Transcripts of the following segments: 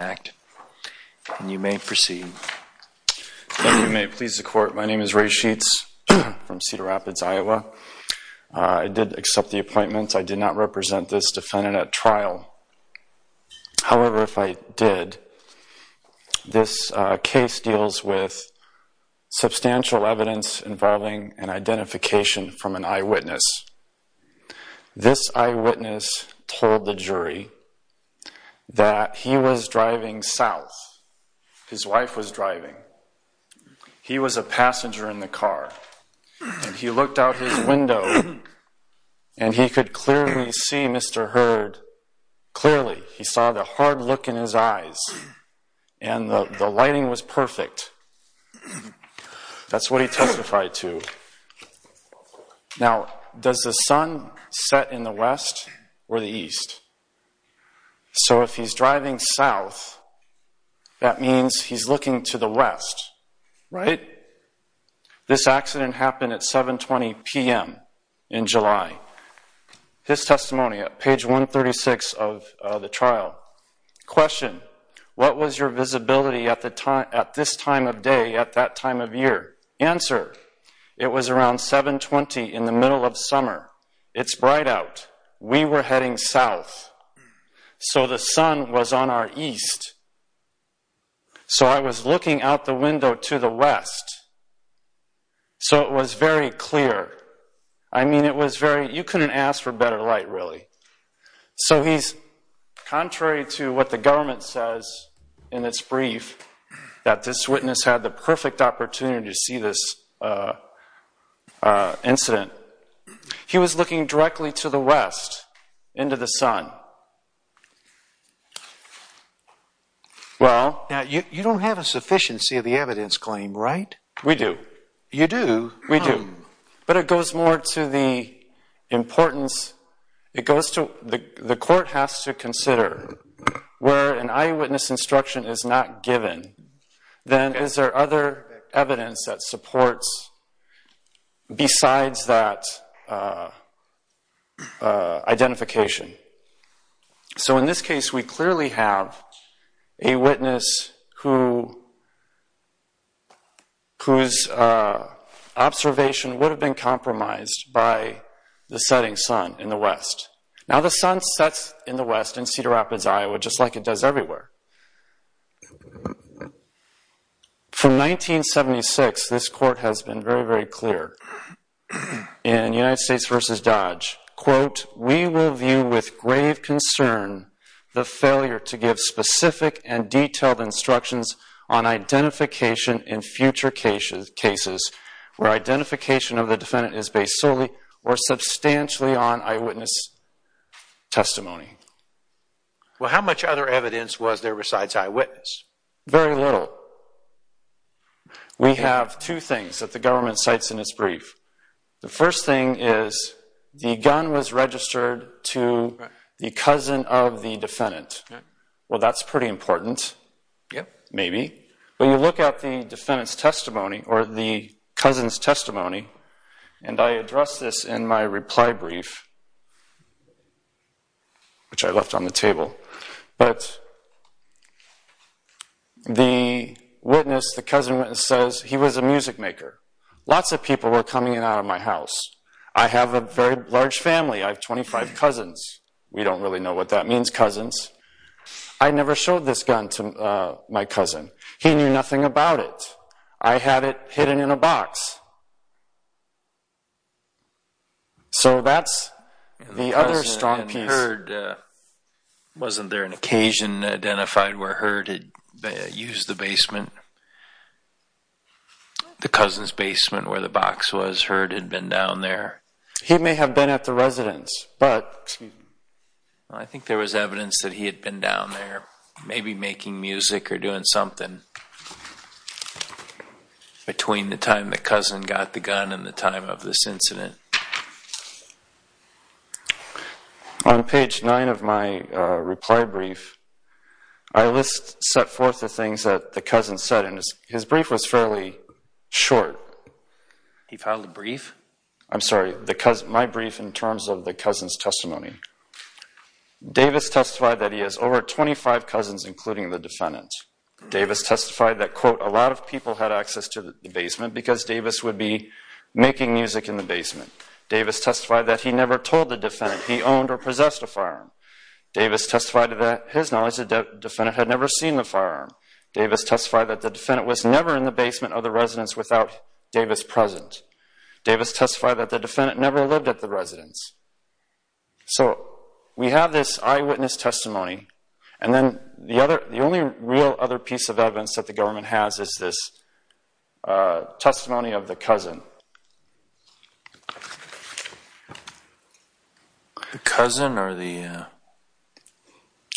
act. You may proceed. You may please the court. My name is Ray sheets from Cedar Rapids, Iowa. I did accept the appointments. I did not represent this defendant at trial. However, if I did, this case deals with substantial evidence involving an identification from an eyewitness. This eyewitness told the jury that he was driving south. His wife was driving. He was a passenger in the car. He looked out his window and he could clearly see Mr. Heard clearly. He saw the hard look in his eyes and the lighting was perfect. That's what he testified to. Now, does the sun set in the west or the east? So if he's driving south, that means he's looking to the west, right? This accident happened at 720 p.m. in July. His testimony at page 136 of the trial. Question. What was your visibility at this time of day at that time of year? Answer. It was around 720 in the middle of summer. It's bright out. We were heading south, so the sun was on our east. So I was looking out the window to the west, so it was very clear. I mean, it was very, you couldn't ask for better light, really. So he's contrary to what the government says in its brief that this witness had the perfect opportunity to see this incident. He was looking directly to the west, into the sun. Well, you don't have a sufficiency of the evidence claim, right? We do. You do? We do. But it goes more to the importance. It goes to the court has to consider where an eyewitness instruction is not given, then is there other evidence that supports besides that identification? So in this case, we clearly have a witness whose observation would have been in the west, in Cedar Rapids, Iowa, just like it does everywhere. From 1976, this court has been very, very clear. In United States v. Dodge, quote, we will view with grave concern the failure to give specific and detailed instructions on identification in future cases where identification of the defendant is based solely or substantially on eyewitness testimony. Well, how much other evidence was there besides eyewitness? Very little. We have two things that the government cites in its brief. The first thing is the gun was registered to the cousin of the defendant. Well, that's pretty important. Yeah. Maybe. But you look at the defendant's testimony or the cousin's I addressed this in my reply brief, which I left on the table. But the witness, the cousin says he was a music maker. Lots of people were coming in and out of my house. I have a very large family. I have 25 cousins. We don't really know what that means, cousins. I never showed this gun to my cousin. He knew nothing about it. I had it hidden in a box. So that's the other strong piece. Wasn't there an occasion identified where Heard had used the basement, the cousin's basement where the box was? Heard had been down there. He may have been at the residence, but... I think there was evidence that he had been down there, maybe making music or doing something between the time the cousin got the gun and the time of this incident. On page nine of my reply brief, I list set forth the things that the cousin said, and his brief was fairly short. He filed a brief? I'm sorry, my brief in terms of the 25 cousins including the defendant. Davis testified that, quote, a lot of people had access to the basement because Davis would be making music in the basement. Davis testified that he never told the defendant he owned or possessed a firearm. Davis testified to that his knowledge the defendant had never seen the firearm. Davis testified that the defendant was never in the basement of the residence without Davis present. Davis testified that the defendant never lived at the residence. So we have this eyewitness testimony, and then the only real other piece of evidence that the government has is this testimony of the cousin. The cousin or the...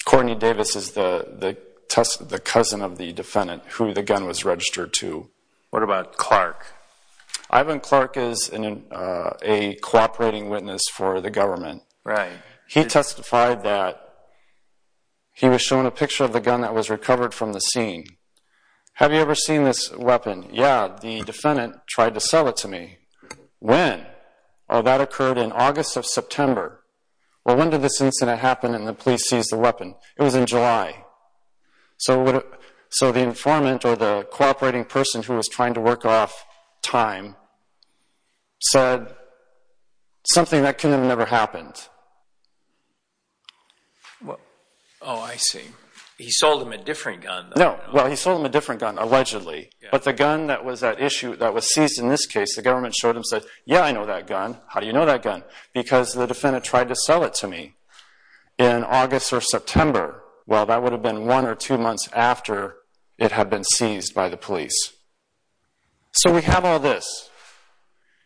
Courtney Davis is the cousin of the defendant who the gun was registered to. What about Clark? Ivan Clark is a cooperating witness for the government. Right. He testified that he was shown a picture of the gun that was recovered from the scene. Have you ever seen this weapon? Yeah, the defendant tried to sell it to me. When? Oh, that occurred in August of September. Well, when did this incident happen and the police seized the weapon? It was in July. So the informant or the cooperating person who was trying to work off time said something that never happened. Oh, I see. He sold him a different gun. No. Well, he sold him a different gun, allegedly, but the gun that was that issue that was seized in this case, the government showed him, said, yeah, I know that gun. How do you know that gun? Because the defendant tried to sell it to me in August or September. Well, that would have been one or two months after it had been seized by the police. So we have all this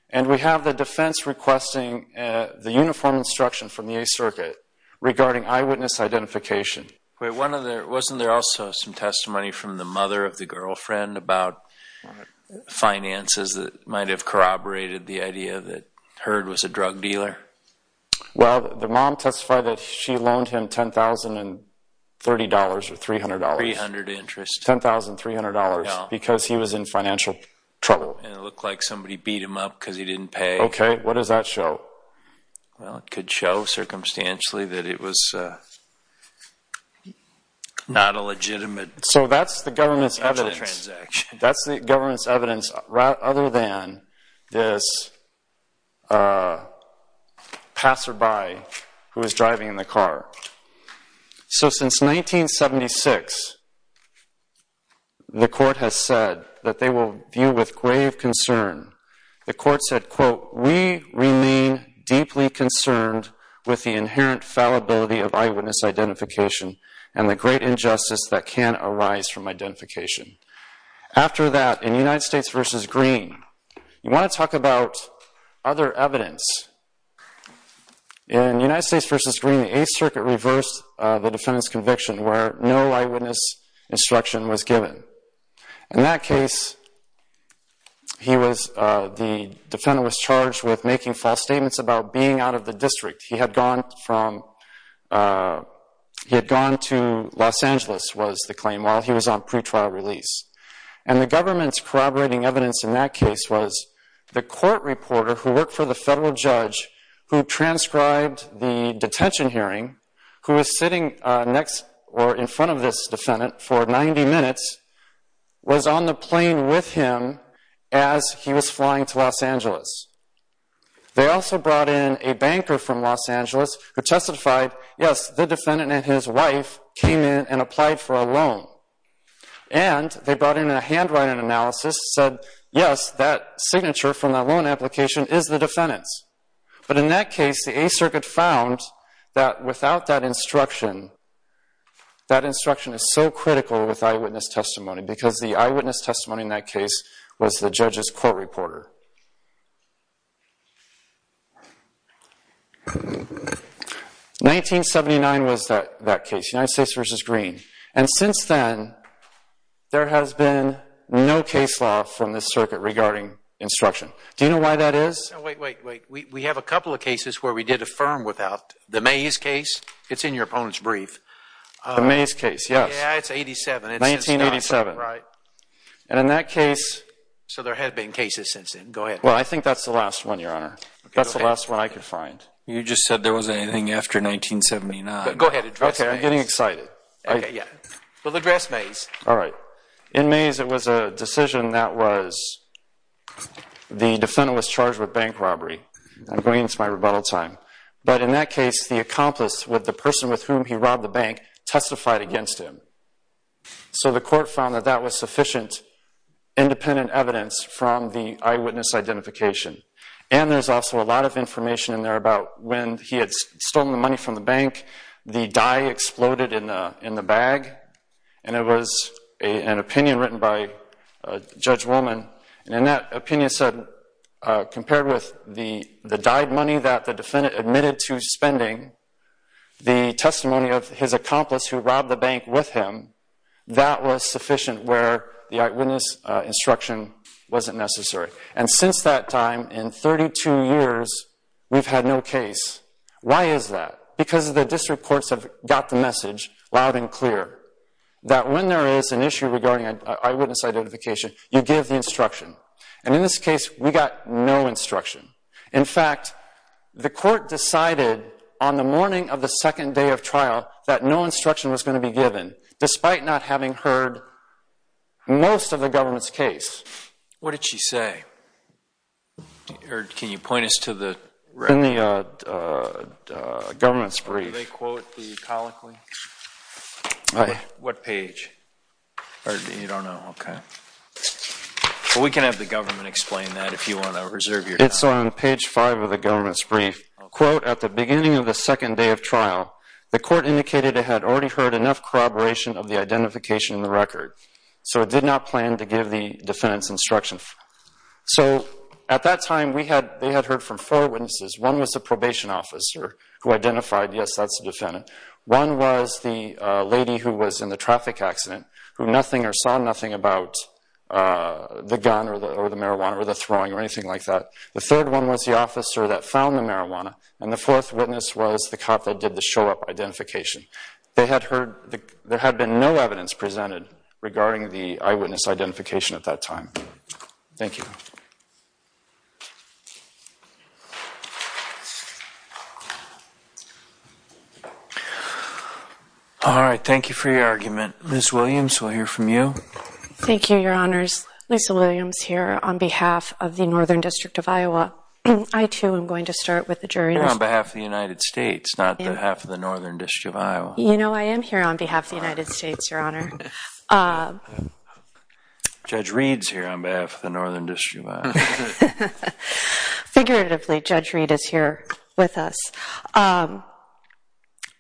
and we have the defense requesting the uniform instruction from the Eighth Circuit regarding eyewitness identification. Wait, wasn't there also some testimony from the mother of the girlfriend about finances that might have corroborated the idea that Herd was a drug dealer? Well, the mom testified that she loaned him ten thousand three hundred dollars because he was in financial trouble. And it looked like somebody beat him up because he didn't pay. Okay, what does that show? Well, it could show circumstantially that it was not a legitimate. So that's the government's evidence. That's the government's evidence, rather than this passerby who is driving in the car. So since 1976, the court has said that they will view with grave concern. The court said, quote, we remain deeply concerned with the inherent fallibility of eyewitness identification and the great injustice that can arise from identification. After that, in United States v. Green, the Eighth Circuit reversed the defendant's conviction where no eyewitness instruction was given. In that case, the defendant was charged with making false statements about being out of the district. He had gone to Los Angeles, was the claim, while he was on pretrial release. And the government's corroborating evidence in that case was the court reporter who worked for the federal judge who transcribed the detention hearing, who was sitting next or in front of this defendant for 90 minutes, was on the plane with him as he was flying to Los Angeles. They also brought in a banker from Los Angeles who testified, yes, the defendant and his wife came in and applied for a loan. And they brought in a handwriting analysis, said, yes, that was the defendant's. But in that case, the Eighth Circuit found that without that instruction, that instruction is so critical with eyewitness testimony because the eyewitness testimony in that case was the judge's court reporter. 1979 was that case, United States v. Green. And since then, there has been no case law from this circuit regarding instruction. Do you know why that is? Wait, wait, wait. We have a couple of cases where we did affirm without. The Mays case, it's in your opponent's brief. The Mays case, yes. Yeah, it's 87. 1987. Right. And in that case. So there have been cases since then. Go ahead. Well, I think that's the last one, Your Honor. That's the last one I could find. You just said there wasn't anything after 1979. Go ahead. Okay, I'm getting In Mays, it was a decision that was the defendant was charged with bank robbery. I'm going into my rebuttal time. But in that case, the accomplice with the person with whom he robbed the bank testified against him. So the court found that that was sufficient independent evidence from the eyewitness identification. And there's also a lot of information in there about when he had the money from the bank, the dye exploded in the bag. And it was an opinion written by Judge Wollman. And in that opinion said, compared with the dyed money that the defendant admitted to spending, the testimony of his accomplice who robbed the bank with him, that was sufficient where the eyewitness instruction wasn't necessary. And since that time, in 32 years, we've had no case. Why is that? Because the district courts have got the message loud and clear that when there is an issue regarding an eyewitness identification, you give the instruction. And in this case, we got no instruction. In fact, the court decided on the morning of the second day of trial that no instruction was going to be given, despite not having heard most of the government's brief. What page? You don't know? Okay. We can have the government explain that if you want to reserve your time. It's on page 5 of the government's brief. Quote, at the beginning of the second day of trial, the court indicated it had already heard enough corroboration of the identification in the record. So it did not plan to give the defendant's instruction. So at that time, we had, they was the probation officer who identified, yes, that's the defendant. One was the lady who was in the traffic accident, who nothing or saw nothing about the gun or the marijuana or the throwing or anything like that. The third one was the officer that found the marijuana, and the fourth witness was the cop that did the show-up identification. They had heard, there had been no evidence presented regarding the eyewitness identification at that time. Thank you. All right, thank you for your argument. Liz Williams, we'll hear from you. Thank you, Your Honors. Lisa Williams here on behalf of the Northern District of Iowa. I too am going to start with the jury. No, on behalf of the United States, not on behalf of the Northern District of Iowa. You know, I am here on behalf of the Northern District of Iowa. Figuratively, Judge Reed is here with us.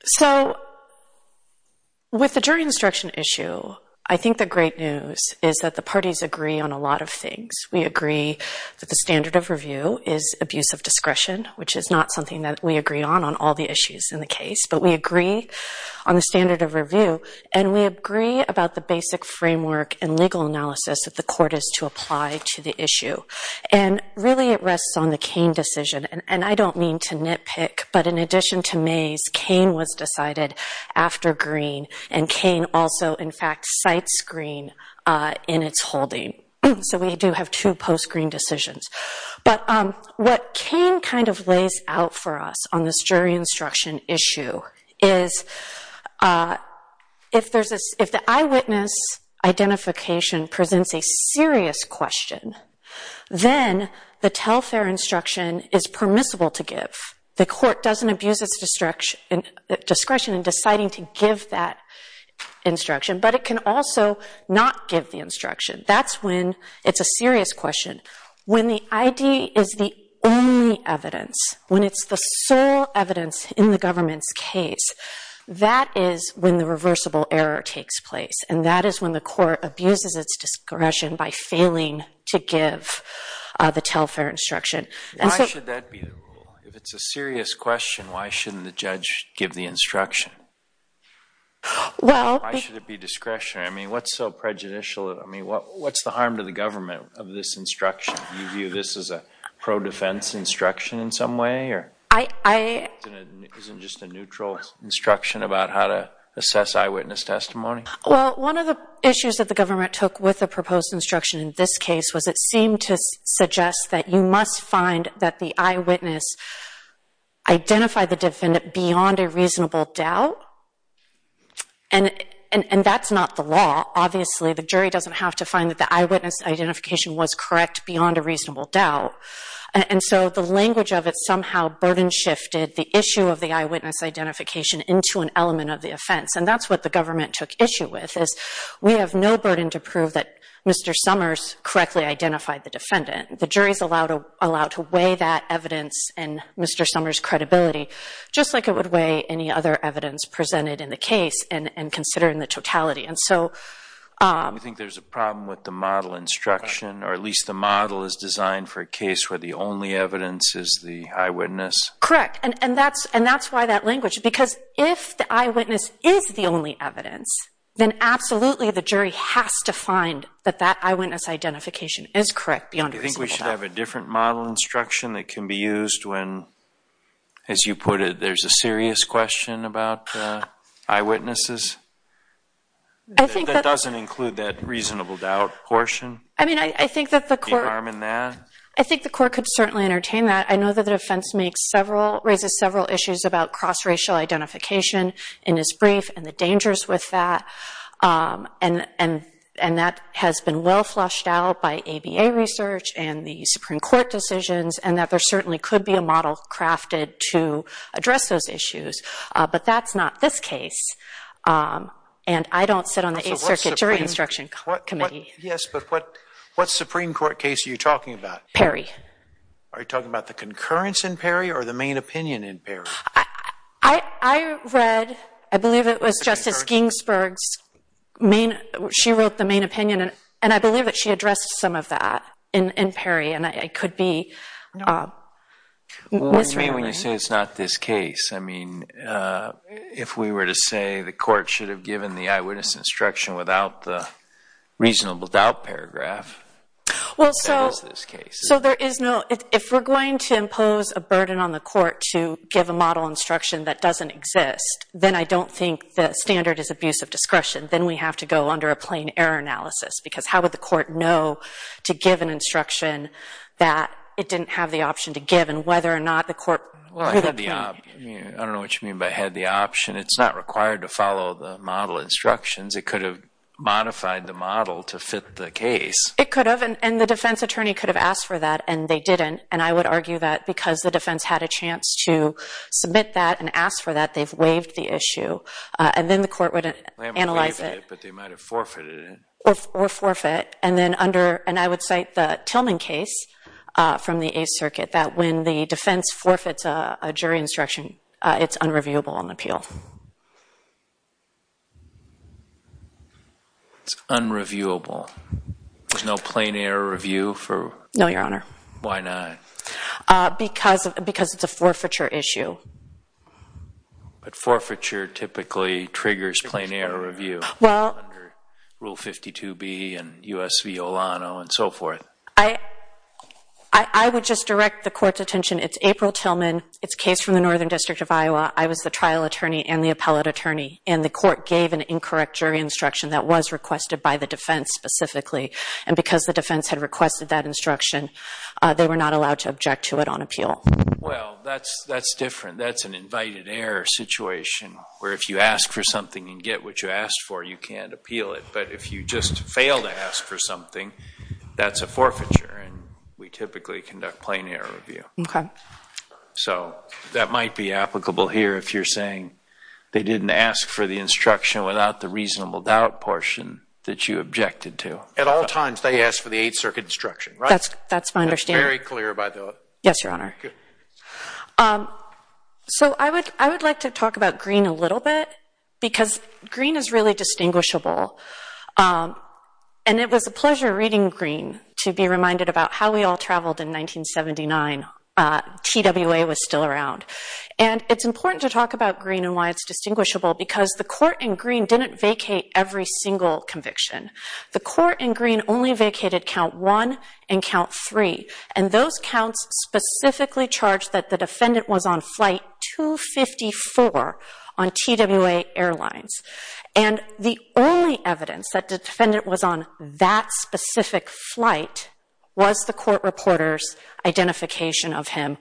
So with the jury instruction issue, I think the great news is that the parties agree on a lot of things. We agree that the standard of review is abuse of discretion, which is not something that we agree on on all the issues in the case, but we agree on the standard of review, and we agree about the basic framework and legal analysis that the court is to apply to the issue. And really, it rests on the Koehn decision, and I don't mean to nitpick, but in addition to Mays, Koehn was decided after Green, and Koehn also, in fact, cites Green in its holding. So we do have two post-Green decisions. But what Koehn kind of lays out for us on this jury instruction issue is, if there's a, if the eyewitness identification presents a serious question, then the tell-fair instruction is permissible to give. The court doesn't abuse its discretion in deciding to give that instruction, but it can also not give the instruction. That's when it's a serious question. When the ID is the only evidence, when it's the sole evidence in the government's case, that is when the court abuses its discretion by failing to give the tell-fair instruction. Why should that be the rule? If it's a serious question, why shouldn't the judge give the instruction? Why should it be discretionary? I mean, what's so prejudicial? I mean, what's the harm to the government of this instruction? Do you view this as a pro-defense instruction in some way, or isn't it just a neutral instruction about how to assess eyewitness testimony? Well, one of the issues that the government took with the proposed instruction in this case was it seemed to suggest that you must find that the eyewitness identified the defendant beyond a reasonable doubt, and that's not the law. Obviously, the jury doesn't have to find that the eyewitness identification was correct beyond a reasonable doubt, and so the language of it somehow burden-shifted the issue of the eyewitness identification into an element of the offense, and that's what the government took issue with, is we have no burden to prove that Mr. Summers correctly identified the defendant. The jury's allowed to weigh that evidence and Mr. Summers' credibility, just like it would weigh any other evidence presented in the case and consider in the totality, and so... You think there's a problem with the model instruction, or at least the model is designed for a case where the only evidence is the eyewitness? Correct, and that's why that language, because if the eyewitness is the only evidence, then absolutely the jury has to find that that eyewitness identification is correct beyond a reasonable doubt. Do you think we should have a different model instruction that can be used when, as you put it, there's a serious question about eyewitnesses? I think that... That doesn't include that reasonable doubt portion? I mean, I think that the court... Do you harm in that? I think the court could certainly entertain that. I know that the defense makes several... Raises several issues about cross-racial identification in his brief and the dangers with that, and that has been well flushed out by ABA research and the Supreme Court decisions, and that there certainly could be a model crafted to address those issues, but that's not this case, and I don't sit on the 8th Circuit Jury Instruction Committee. Yes, but what Supreme Court case are you talking about? Perry. Are you talking about the concurrence in Perry or the main opinion in Perry? I read... I believe it was Justice Ginsburg's main... She wrote the main opinion, and I believe that she addressed some of that in Perry, and I could be... Well, what do you mean when you say it's not this case? I mean, if we were to say the court should have given the eyewitness instruction without the reasonable doubt paragraph, that is this case. Well, so there is no... If we're going to impose a burden on the court to give a model instruction that doesn't exist, then I don't think the standard is abuse of discretion. Then we have to go under a plain error analysis, because how would the court know to give an instruction that it didn't have the option to give, and whether or not the court... Well, I had the... I don't know what you mean by had the option. It's not required to follow the model instructions. It could have modified the model to fit the case. It could have, and the defense attorney could have asked for that, and they didn't, and I would argue that because the defense had a chance to submit that and ask for that, they've waived the issue, and then the court would analyze it. But they might have forfeited it. Or forfeit, and then under... And I would cite the Tillman case from the Eighth Circuit, that when the defense forfeits a jury instruction, it's unreviewable on the appeal. It's unreviewable. There's no plain error review for... No, Your Honor. Why not? Because it's a forfeiture issue. But forfeiture typically triggers plain error review. Well... Under Rule 52B and U.S. v. Olano and so forth. I would just direct the court's attention. It's April Tillman. It's a case from the Northern District of Iowa. I was the trial attorney and the appellate attorney, and the court gave an incorrect jury instruction that was requested by the defense specifically, and because the defense had requested that instruction, they were not allowed to object to it on appeal. Well, that's different. That's an invited error situation, where if you ask for something and get what you asked for, you can't appeal it. But if you just fail to ask for something, that's a forfeiture, and we typically conduct plain error review. Okay. So that might be applicable here if you're saying they didn't ask for the instruction without the reasonable doubt portion that you objected to. At all times, they asked for the Eighth Circuit instruction, right? That's my understanding. That's very clear, by the way. Yes, Your Honor. So I would like to talk about Greene a little bit, because Greene is really distinguishable, and it was a pleasure reading Greene to be reminded about how we all traveled in 1979. TWA was still around, and it's important to talk about Greene and why it's distinguishable, because the court in Greene didn't vacate every single conviction. The court in Greene only vacated count one and count three, and those counts specifically charged that the defendant was on flight 254 on TWA Airlines, and the only evidence that the defendant was on that specific flight was the court reporter's identification of him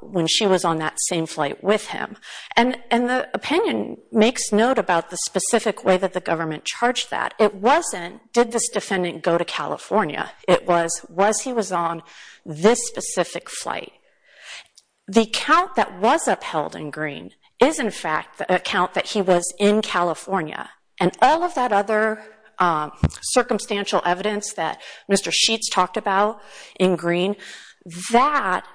when she was on that same flight with him. And the opinion makes note about the specific way that the government charged that. It wasn't, did this defendant go to California? It was, was he was on this specific flight? The count that was upheld in Greene is, in fact, the count that he was in California, and all of that other circumstantial evidence that Mr. Sheets talked about in Greene, that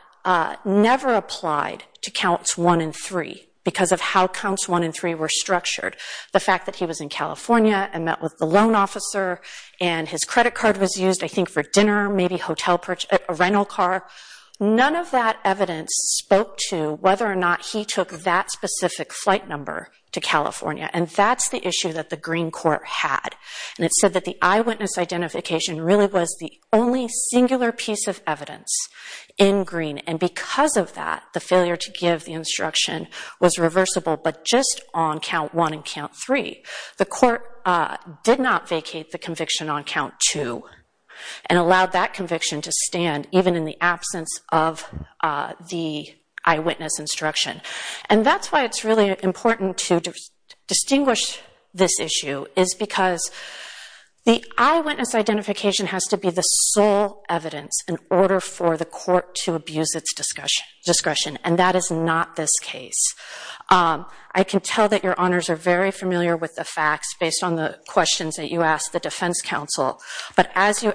never applied to counts one and three, because of how counts one and three were structured. The fact that he was in California and met with the loan officer, and his credit card was used, I think, for dinner, maybe hotel purchase, a rental car, none of that evidence spoke to whether or not he took that specific flight number to California, and that's the issue that the Greene court had. And it said that the eyewitness identification really was the only singular piece of evidence in Greene, and because of that, the failure to give the instruction was reversible, but just on count one and count three. The court did not vacate the conviction on count two, and allowed that conviction to stand even in the absence of the eyewitness instruction. And that's why it's really important to distinguish this issue, is because the eyewitness identification has to be the sole evidence in order for the court to abuse its discretion, and that is not this case. I can tell that your honors are very familiar with the facts, based on the questions that you asked the defense counsel, but as you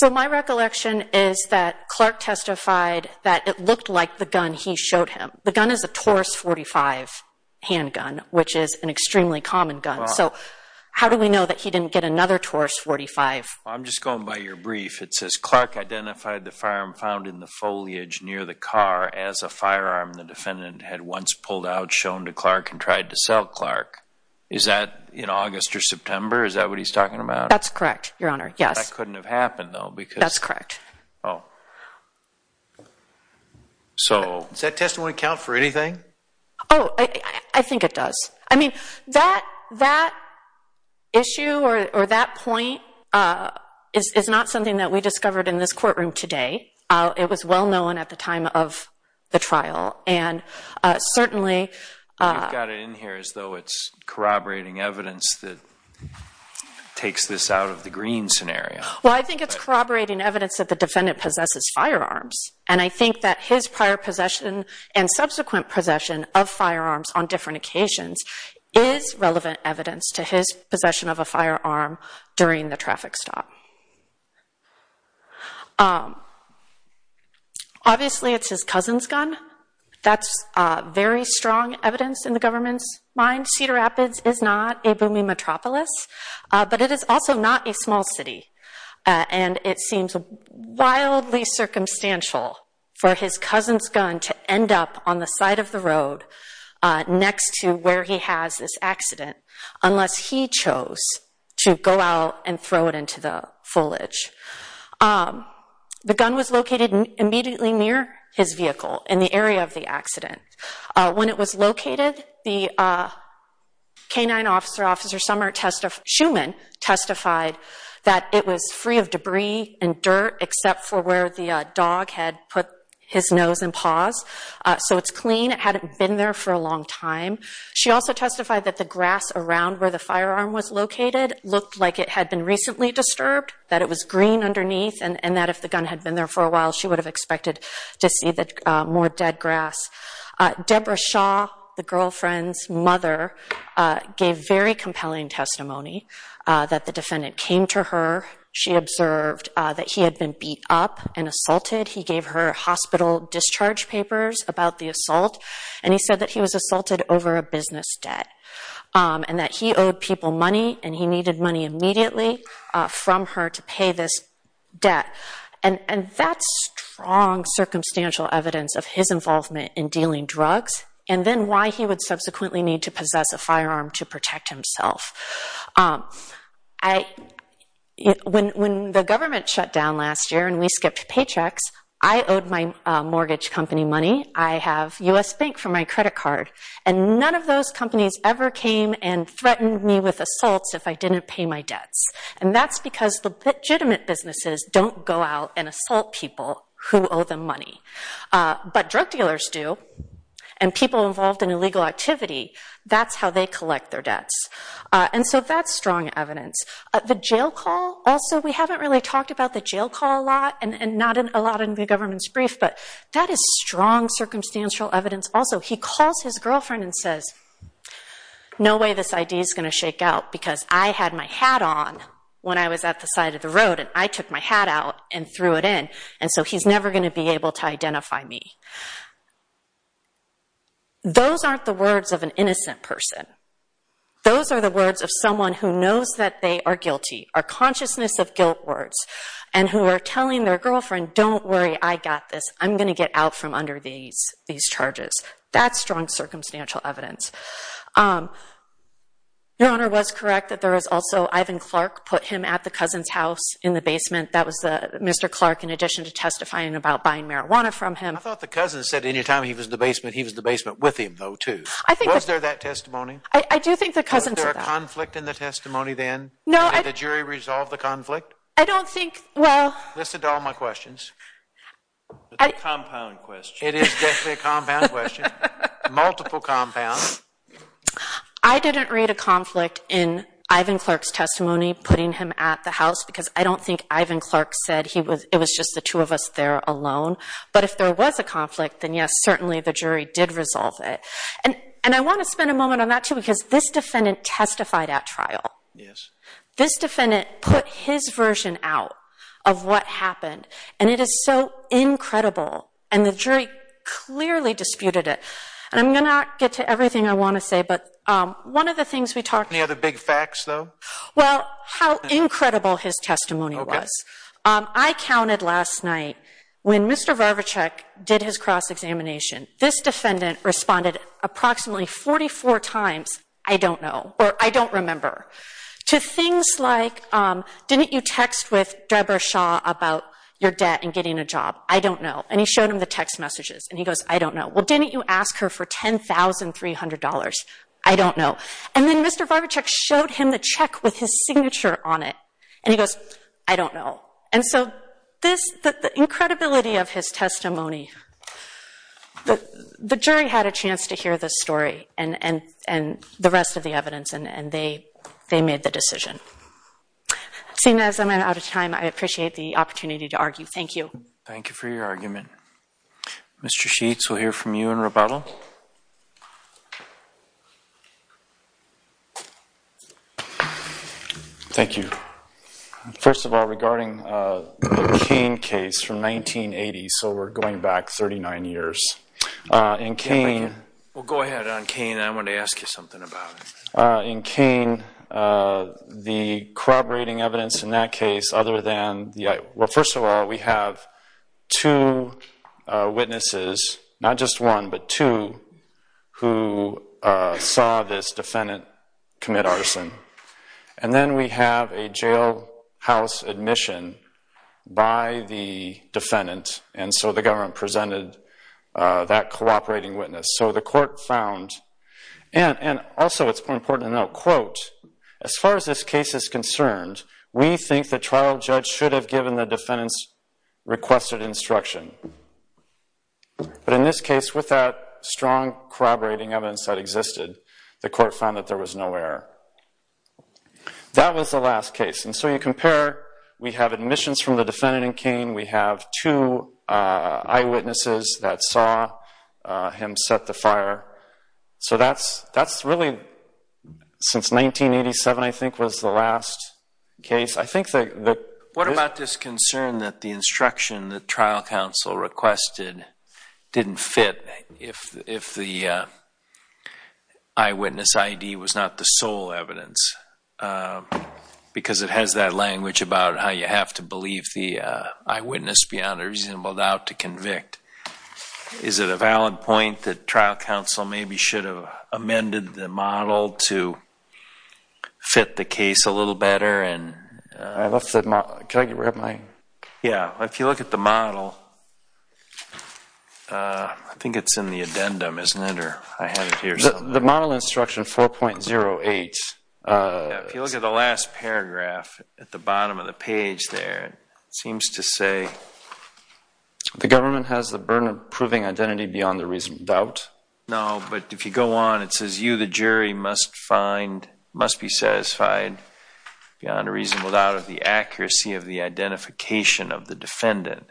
So my recollection is that Clark testified that it looked like the gun he showed him. The gun is a Taurus 45 handgun, which is an extremely common gun, so how do we know that he didn't get another Taurus 45? I'm just going by your brief. It says Clark identified the firearm found in the firearm the defendant had once pulled out, shown to Clark, and tried to sell Clark. Is that in August or September? Is that what he's talking about? That's correct, your honor, yes. That couldn't have happened, though, because... That's correct. Oh. So... Does that testimony count for anything? Oh, I think it does. I mean, that that issue, or that point, is not something that we discovered in this the trial, and certainly... You've got it in here as though it's corroborating evidence that takes this out of the green scenario. Well, I think it's corroborating evidence that the defendant possesses firearms, and I think that his prior possession and subsequent possession of firearms on different occasions is relevant evidence to his possession of a firearm during the gun. That's very strong evidence in the government's mind. Cedar Rapids is not a booming metropolis, but it is also not a small city, and it seems wildly circumstantial for his cousin's gun to end up on the side of the road next to where he has this accident, unless he chose to go out and throw it into the in the area of the accident. When it was located, the canine officer, Officer Summer Schumann, testified that it was free of debris and dirt except for where the dog had put his nose and paws, so it's clean. It hadn't been there for a long time. She also testified that the grass around where the firearm was located looked like it had been recently disturbed, that it was green underneath, and that if the gun had been there for a while, she would have expected to see more dead grass. Deborah Shaw, the girlfriend's mother, gave very compelling testimony that the defendant came to her. She observed that he had been beat up and assaulted. He gave her hospital discharge papers about the assault, and he said that he was assaulted over a business debt, and that he owed people money, and he needed money immediately from her to pay this debt. And that's strong, circumstantial evidence of his involvement in dealing drugs, and then why he would subsequently need to possess a firearm to protect himself. When the government shut down last year and we skipped paychecks, I owed my mortgage company money. I have U.S. Bank for my credit card, and none of those companies ever came and threatened me with assaults if I didn't pay my debts. And that's because the legitimate businesses don't go out and assault people who owe them money. But drug dealers do, and people involved in illegal activity, that's how they collect their debts. And so that's strong evidence. The jail call, also, we haven't really talked about the jail call a lot, and not in a lot in the government's brief, but that is strong, circumstantial evidence. Also, he calls his girlfriend and says, no way this ID is going to shake out because I had my hat on when I was at the side of the road, and I took my hat out and threw it in, and so he's never going to be able to identify me. Those aren't the words of an innocent person. Those are the words of someone who knows that they are guilty, are consciousness of guilt words, and who are telling their girlfriend, don't worry, I got this. I'm going to get out from Your Honor, it was correct that there was also Ivan Clark put him at the cousin's house in the basement. That was Mr. Clark, in addition to testifying about buying marijuana from him. I thought the cousin said anytime he was in the basement, he was in the basement with him, though, too. Was there that testimony? I do think the cousin said that. Was there a conflict in the testimony then? No. Did the jury resolve the conflict? I don't think, well. Listen to all my questions. It's a compound question. It is definitely a compound question. Multiple compounds. I didn't read a conflict in Ivan Clark's testimony, putting him at the house, because I don't think Ivan Clark said he was, it was just the two of us there alone, but if there was a conflict, then yes, certainly the jury did resolve it, and I want to spend a moment on that, too, because this defendant testified at trial. Yes. This defendant put his version out of what happened, and it is so incredible, and the jury clearly disputed it, and I'm going to not get to everything I want to say, but one of the things we talked about. Any other big facts, though? Well, how incredible his testimony was. I counted last night, when Mr. Varvachek did his cross-examination, this defendant responded approximately 44 times, I don't know, or I don't remember, to things like, didn't you text with Deborah Shaw about your debt and getting a job? I don't know, and he showed him the text messages, and he goes, I don't know. Well, didn't you ask her for ten thousand three hundred dollars? I don't know, and then Mr. Varvachek showed him the check with his signature on it, and he goes, I don't know, and so this, the incredibility of his testimony, the jury had a chance to hear this story, and the rest of the evidence, and they made the decision. Seeing as I'm out of time, I appreciate the opportunity to argue. Thank you. Thank you for your time. Mr. Sheets, we'll hear from you in rebuttal. Thank you. First of all, regarding the Cain case from 1980, so we're going back 39 years, in Cain... Well, go ahead on Cain, I want to ask you something about it. In Cain, the corroborating evidence in that case, other than... Well, first of all, we have two witnesses, not just one, but two, who saw this defendant commit arson, and then we have a jailhouse admission by the defendant, and so the government presented that cooperating witness. So the court found, and also it's important to note, quote, as far as this case is concerned, the trial judge should have given the defendant's requested instruction. But in this case, with that strong corroborating evidence that existed, the court found that there was no error. That was the last case, and so you compare, we have admissions from the defendant in Cain, we have two eyewitnesses that saw him set the fire, so that's really, since 1987, I think, was the last case. I think that... What about this concern that the instruction the trial counsel requested didn't fit if the eyewitness ID was not the sole evidence, because it has that language about how you have to believe the eyewitness beyond a reasonable doubt to convict. Is it a valid point that trial counsel maybe should have amended the model to fit the case a little better? Yeah, if you look at the model, I think it's in the addendum, isn't it? The model instruction 4.08. If you look at the last paragraph at the bottom of the page there, it seems to say the government has the burden of proving identity beyond the reasonable doubt. No, but if you go on, it says you, the jury, must find, must be satisfied beyond a reasonable doubt of the accuracy of the identification of the defendant.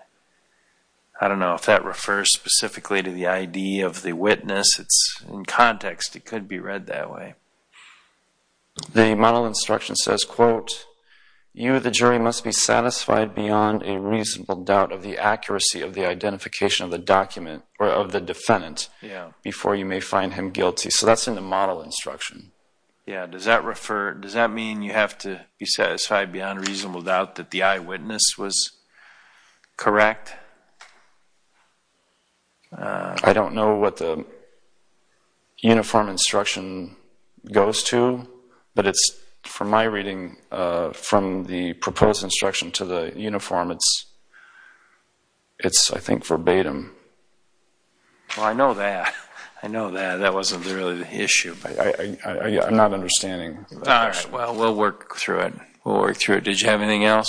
I don't know if that refers specifically to the ID of the witness. It's in context. It could be read that way. The model instruction says, quote, you, the jury, must be satisfied beyond a reasonable doubt of the accuracy of the identification of the document, or of the defendant, before you may find him guilty. So that's in the model instruction. Yeah, does that refer, does that mean you have to be satisfied beyond a reasonable doubt that the eyewitness was correct? I don't know what the uniform instruction goes to, but it's from my reading, from the proposed instruction to the uniform, it's, I think, verbatim. I know that. I know that. That wasn't really the issue. I'm not understanding. All right, well, we'll work through it. We'll work through it. Did you have anything else?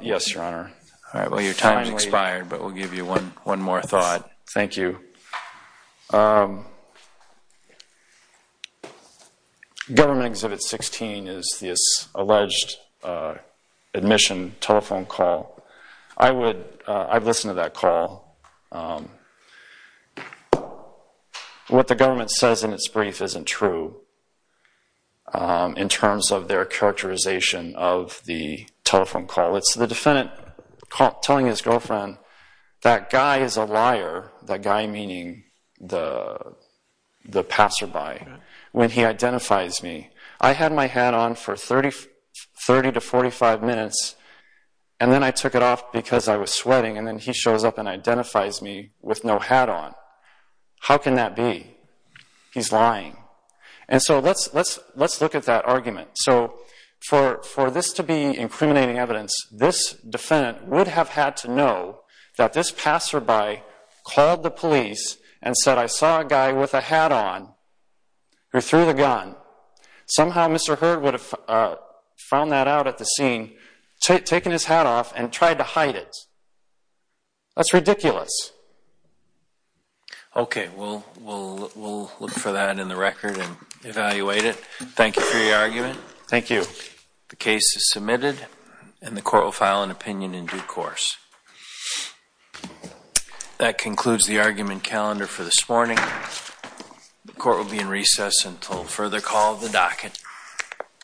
Yes, Your Honor. All right, well, your time has expired, but we'll give you one more thought. Thank you. Government Exhibit 16 is this alleged admission telephone call. I would, I've listened to that call. What the government says in its brief isn't true in terms of their characterization of the telephone call. It's the defendant telling his girlfriend, that guy is a liar, that guy meaning the passerby, when he identifies me. I had my hat on for 30 to 45 minutes, and then I took it off because I was sweating, and then he shows up and identifies me with no hat on. How can that be? He's lying. And so let's look at that argument. So for this to be incriminating evidence, this defendant would have had to know that this passerby called the police and said, I saw a guy with a hat on who threw the gun. Somehow Mr. Hurd would have found that out at the scene, taken his hat off, and tried to hide it. That's ridiculous. Okay, well, we'll look for that in the record and evaluate it. Thank you for your argument. Thank you. The case is submitted and the court will file an opinion in due course. That concludes the argument calendar for this morning. The court will be in recess until further call of the docket.